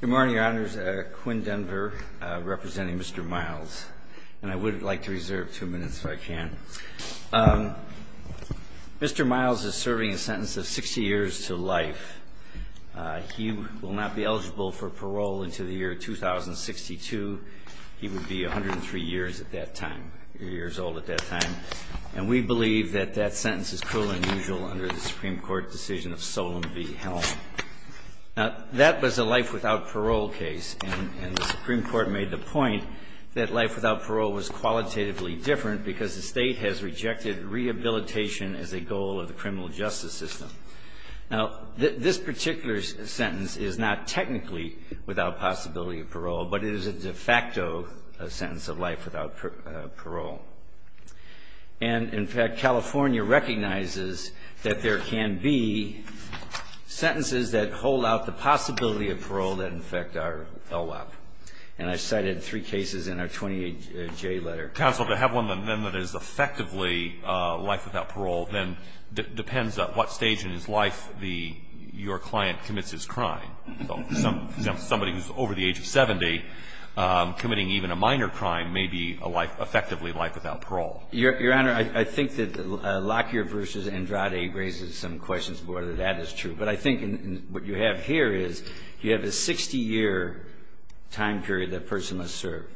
Good morning, Your Honors. Quinn Denver representing Mr. Miles. And I would like to reserve two minutes if I can. Mr. Miles is serving a sentence of 60 years to life. He will not be eligible for parole until the year 2062. He would be 103 years at that time, years old at that time. And we believe that that sentence is cruel and unusual under the Supreme Court decision of Solem v. Helm. Now, that was a life without parole case. And the Supreme Court made the point that life without parole was qualitatively different because the State has rejected rehabilitation as a goal of the criminal justice system. Now, this particular sentence is not technically without possibility of parole, but it is a de facto sentence of life without parole. And, in fact, California recognizes that there can be sentences that hold out the possibility of parole that, in fact, are LWAP. And I cited three cases in our 20J letter. Counsel, to have one, then, that is effectively life without parole, then depends at what stage in his life your client commits his crime. So somebody who's over the age of 70 committing even a minor crime may be effectively life without parole. Your Honor, I think that Lockyer v. Andrade raises some questions about whether that is true. But I think what you have here is you have a 60-year time period that a person must serve.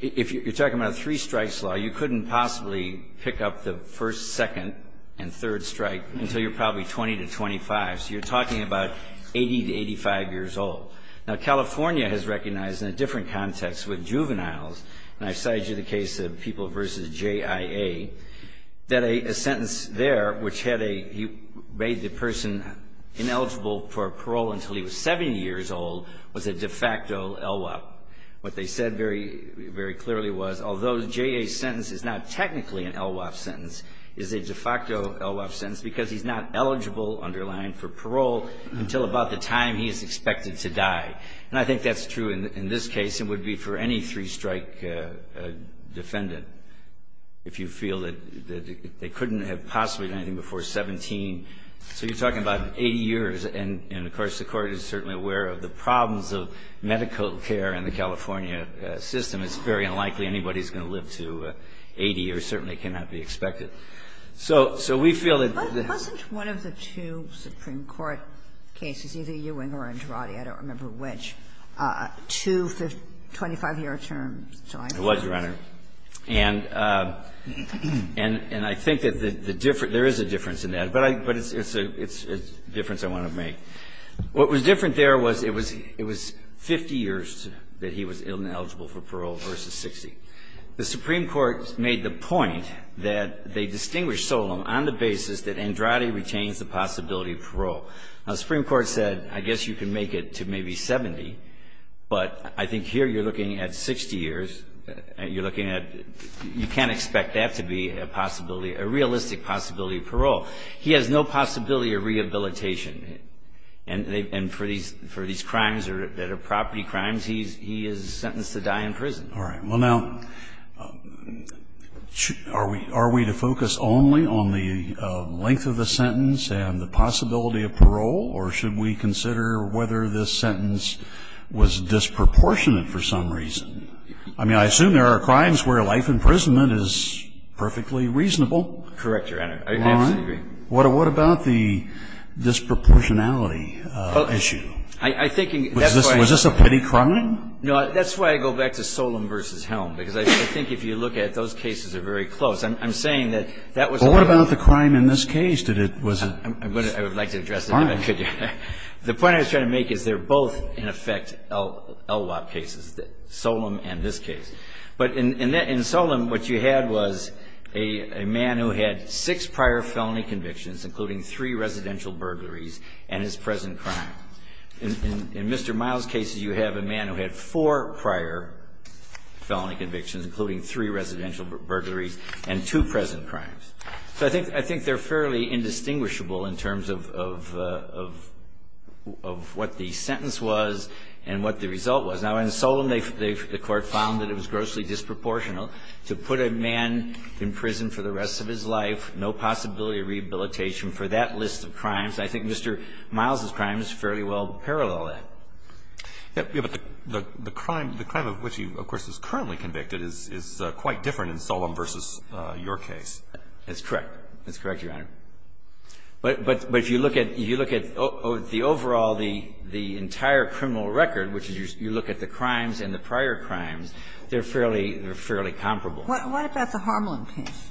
If you're talking about a three-strikes law, you couldn't possibly pick up the first, second, and third strike until you're probably 20 to 25. So you're talking about 80 to 85 years old. Now, California has recognized, in a different context with juveniles, and I cited you the case of People v. JIA, that a sentence there, which had a he made the person ineligible for parole until he was 70 years old, was a de facto LWAP. What they said very clearly was, although JIA's sentence is not technically an LWAP sentence, is a de facto LWAP sentence because he's not eligible, underlined, for parole until about the time he is expected to die. And I think that's true in this case. It would be for any three-strike defendant if you feel that they couldn't have possibly done anything before 17. So you're talking about 80 years. And, of course, the Court is certainly aware of the problems of medical care in the California system. It's very unlikely anybody's going to live to 80, or certainly cannot be expected. So we feel that there's a difference. Kagan. But wasn't one of the two Supreme Court cases, either Ewing or Andrade, I don't remember which, two 25-year terms? It was, Your Honor. And I think that the difference ‑‑ there is a difference in that, but it's a difference I want to make. What was different there was it was 50 years that he was eligible for parole versus 60. The Supreme Court made the point that they distinguished Solem on the basis that Andrade retains the possibility of parole. Now, the Supreme Court said, I guess you can make it to maybe 70, but I think here you're looking at 60 years. You're looking at ‑‑ you can't expect that to be a possibility, a realistic possibility of parole. He has no possibility of rehabilitation. And for these crimes that are property crimes, he is sentenced to die in prison. All right. Well, now, are we to focus only on the length of the sentence and the possibility of parole, or should we consider whether this sentence was disproportionate for some reason? I mean, I assume there are crimes where life imprisonment is perfectly reasonable. Correct, Your Honor. I absolutely agree. All right. What about the disproportionality issue? Was this a petty crime? No. That's why I go back to Solem versus Helm, because I think if you look at it, those cases are very close. I'm saying that that was a ‑‑ But what about the crime in this case? I would like to address that. All right. The point I was trying to make is they're both, in effect, LWOP cases, Solem and this case. But in Solem, what you had was a man who had six prior felony convictions, including three residential burglaries, and his present crime. In Mr. Miles' case, you have a man who had four prior felony convictions, including three residential burglaries and two present crimes. So I think they're fairly indistinguishable in terms of what the sentence was and what the result was. Now, in Solem, the court found that it was grossly disproportional to put a man in prison for the rest of his life, no possibility of rehabilitation for that list of crimes. I think Mr. Miles' crime is fairly well parallel to that. Yes, but the crime of which he, of course, is currently convicted is quite different in Solem versus your case. That's correct. That's correct, Your Honor. But if you look at the overall, the entire criminal record, which is you look at the crimes and the prior crimes, they're fairly comparable. What about the Harmland case?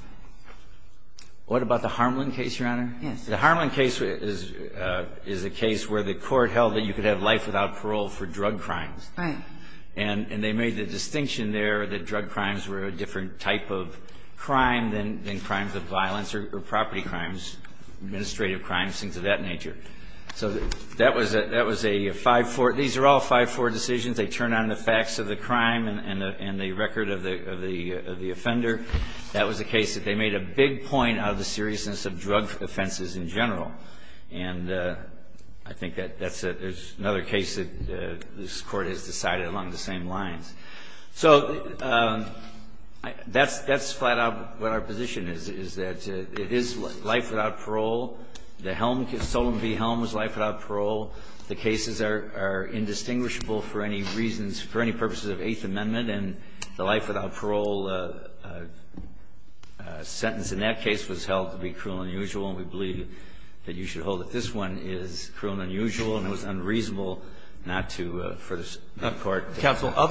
What about the Harmland case, Your Honor? Yes. The Harmland case is a case where the court held that you could have life without parole for drug crimes. Right. And they made the distinction there that drug crimes were a different type of crime than crimes of violence or property crimes, administrative crimes, things of that nature. So that was a 5-4. These are all 5-4 decisions. They turn on the facts of the crime and the record of the offender. That was a case that they made a big point out of the seriousness of drug offenses in general. And I think that's another case that this Court has decided along the same lines. So that's flat out what our position is, is that it is life without parole. The Helm case, Solon v. Helm, was life without parole. The cases are indistinguishable for any reasons, for any purposes of Eighth Amendment. And the life without parole sentence in that case was held to be cruel and unusual, and we believe that you should hold that this one is cruel and unusual, and it was other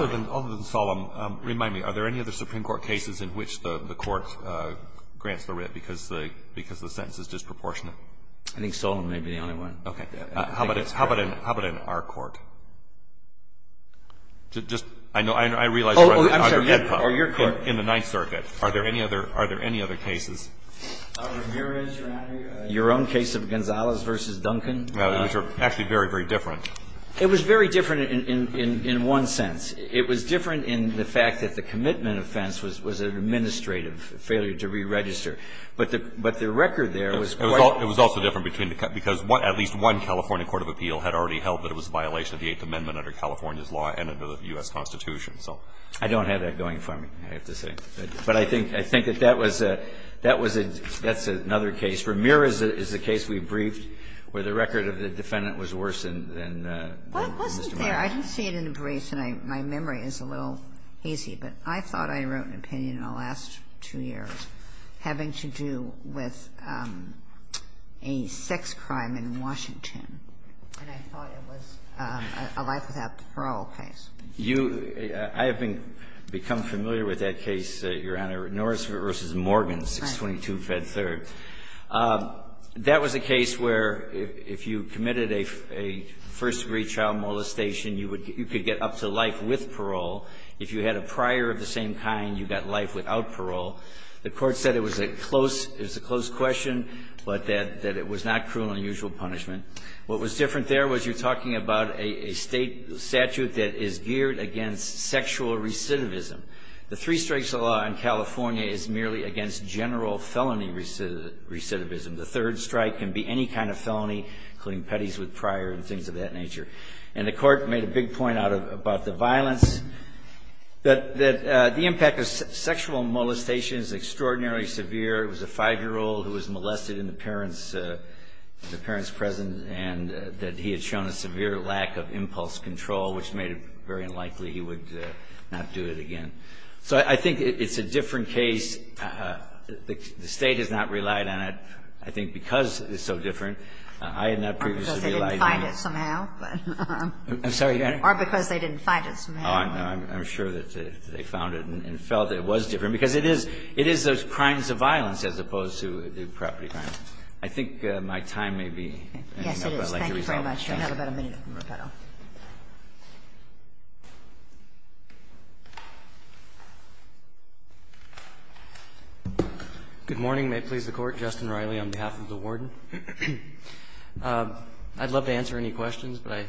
than Solon. Remind me, are there any other Supreme Court cases in which the Court grants the writ because the sentence is disproportionate? I think Solon may be the only one. Okay. How about in our Court? Just, I know, I realize we're under HEDPA. Oh, I'm sorry. Or your Court. In the Ninth Circuit. Are there any other cases? Here is, Your Honor, your own case of Gonzalez v. Duncan. Which are actually very, very different. It was very different in one sense. It was different in the fact that the commitment offense was an administrative failure to re-register. But the record there was quite different. It was also different because at least one California court of appeal had already held that it was a violation of the Eighth Amendment under California's law and under the U.S. Constitution, so. I don't have that going for me, I have to say. But I think that that was a, that was a, that's another case. Ramirez is a case we briefed where the record of the defendant was worse than Mr. And I think the memory is a little hazy, but I thought I wrote an opinion in the last two years having to do with a sex crime in Washington. And I thought it was a life without parole case. You, I have become familiar with that case, Your Honor, Norris v. Morgan, 622 Fed 3rd. That was a case where if you committed a first-degree child molestation, you could get up to life with parole. If you had a prior of the same kind, you got life without parole. The court said it was a close, it was a close question, but that it was not cruel and unusual punishment. What was different there was you're talking about a state statute that is geared against sexual recidivism. The three strikes of law in California is merely against general felony recidivism. The third strike can be any kind of felony, including petties with prior and things of that nature. And the court made a big point about the violence, that the impact of sexual molestation is extraordinarily severe. It was a five-year-old who was molested in the parents' presence, and that he had shown a severe lack of impulse control, which made it very unlikely he would not do it again. So I think it's a different case. The State has not relied on it, I think, because it's so different. I had not previously relied on it. They must have had to do it somehow. Roberts, I'm sorry. Or because they didn't find it somehow. I'm sure that they found it and felt it was different, because it is those crimes of violence as opposed to the property crime. I think my time may be up. Thank you very much. Yes, it is. We have about a minute from rebuttal. Good morning. May it please the Court. Justin Riley on behalf of the Warden. I'd love to answer any questions, but I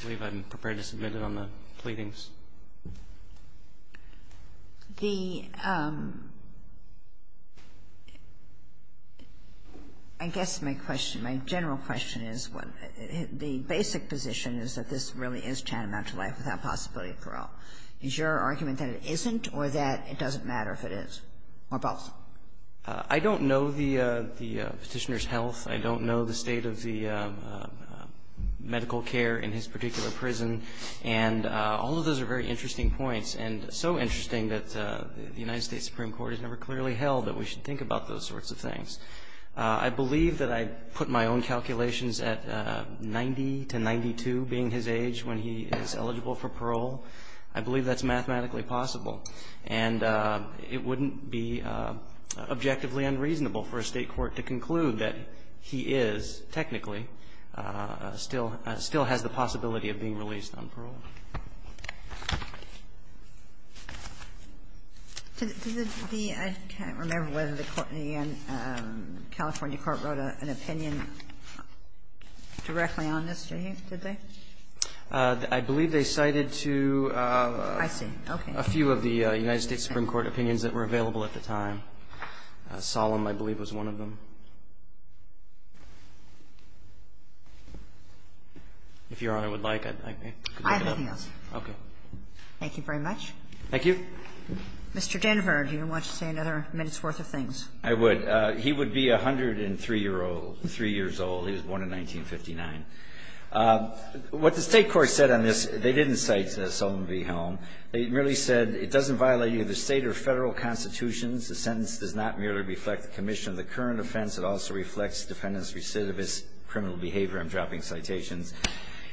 believe I'm prepared to submit it on the pleadings. The ‑‑ I guess my question, my general question is, the basic position is that this really is tantamount to life without possibility of parole. Is your argument that it isn't or that it doesn't matter if it is, or both? I don't know the petitioner's health. I don't know the state of the medical care in his particular prison. And all of those are very interesting points, and so interesting that the United States Supreme Court has never clearly held that we should think about those sorts of things. I believe that I put my own calculations at 90 to 92 being his age when he is eligible for parole. I believe that's mathematically possible. And it wouldn't be objectively unreasonable for a State court to conclude that he is technically still ‑‑ still has the possibility of being released on parole. Did the ‑‑ I can't remember whether the California court wrote an opinion directly on this. Did they? I believe they cited to ‑‑ I see. Okay. A few of the United States Supreme Court opinions that were available at the time. Solemn, I believe, was one of them. If Your Honor would like, I ‑‑ I have nothing else. Okay. Thank you very much. Thank you. Mr. Danford, do you want to say another minute's worth of things? I would. He would be 103 year old, 3 years old. He was born in 1959. What the State court said on this, they didn't cite Solemn v. Helm. They merely said, it doesn't violate either State or Federal constitutions. The sentence does not merely reflect the commission of the current offense. It also reflects defendant's recidivist criminal behavior. I'm dropping citations.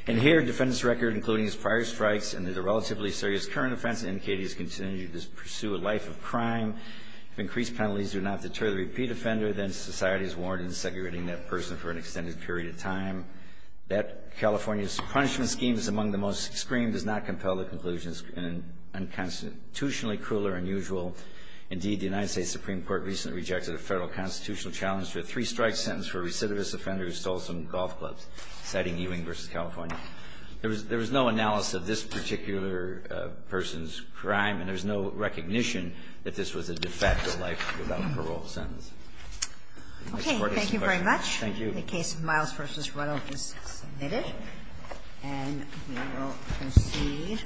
And here, defendant's record including his prior strikes and the relatively serious current offense indicated he has continued to pursue a life of crime. If increased penalties do not deter the repeat offender, then society is warranted in segregating that person for an extended period of time. That California's punishment scheme is among the most extreme, does not compel the conclusion it's unconstitutionally cruel or unusual. Indeed, the United States Supreme Court recently rejected a Federal constitutional challenge to a three-strike sentence for a recidivist offender who stole some golf clubs, citing Ewing v. California. There was no analysis of this particular person's crime, and there's no recognition that this was a de facto life without parole sentence. Ms. Fortas, any questions? Thank you. Thank you. The case of Miles v. Ruddell is submitted. And we will proceed. Thank you.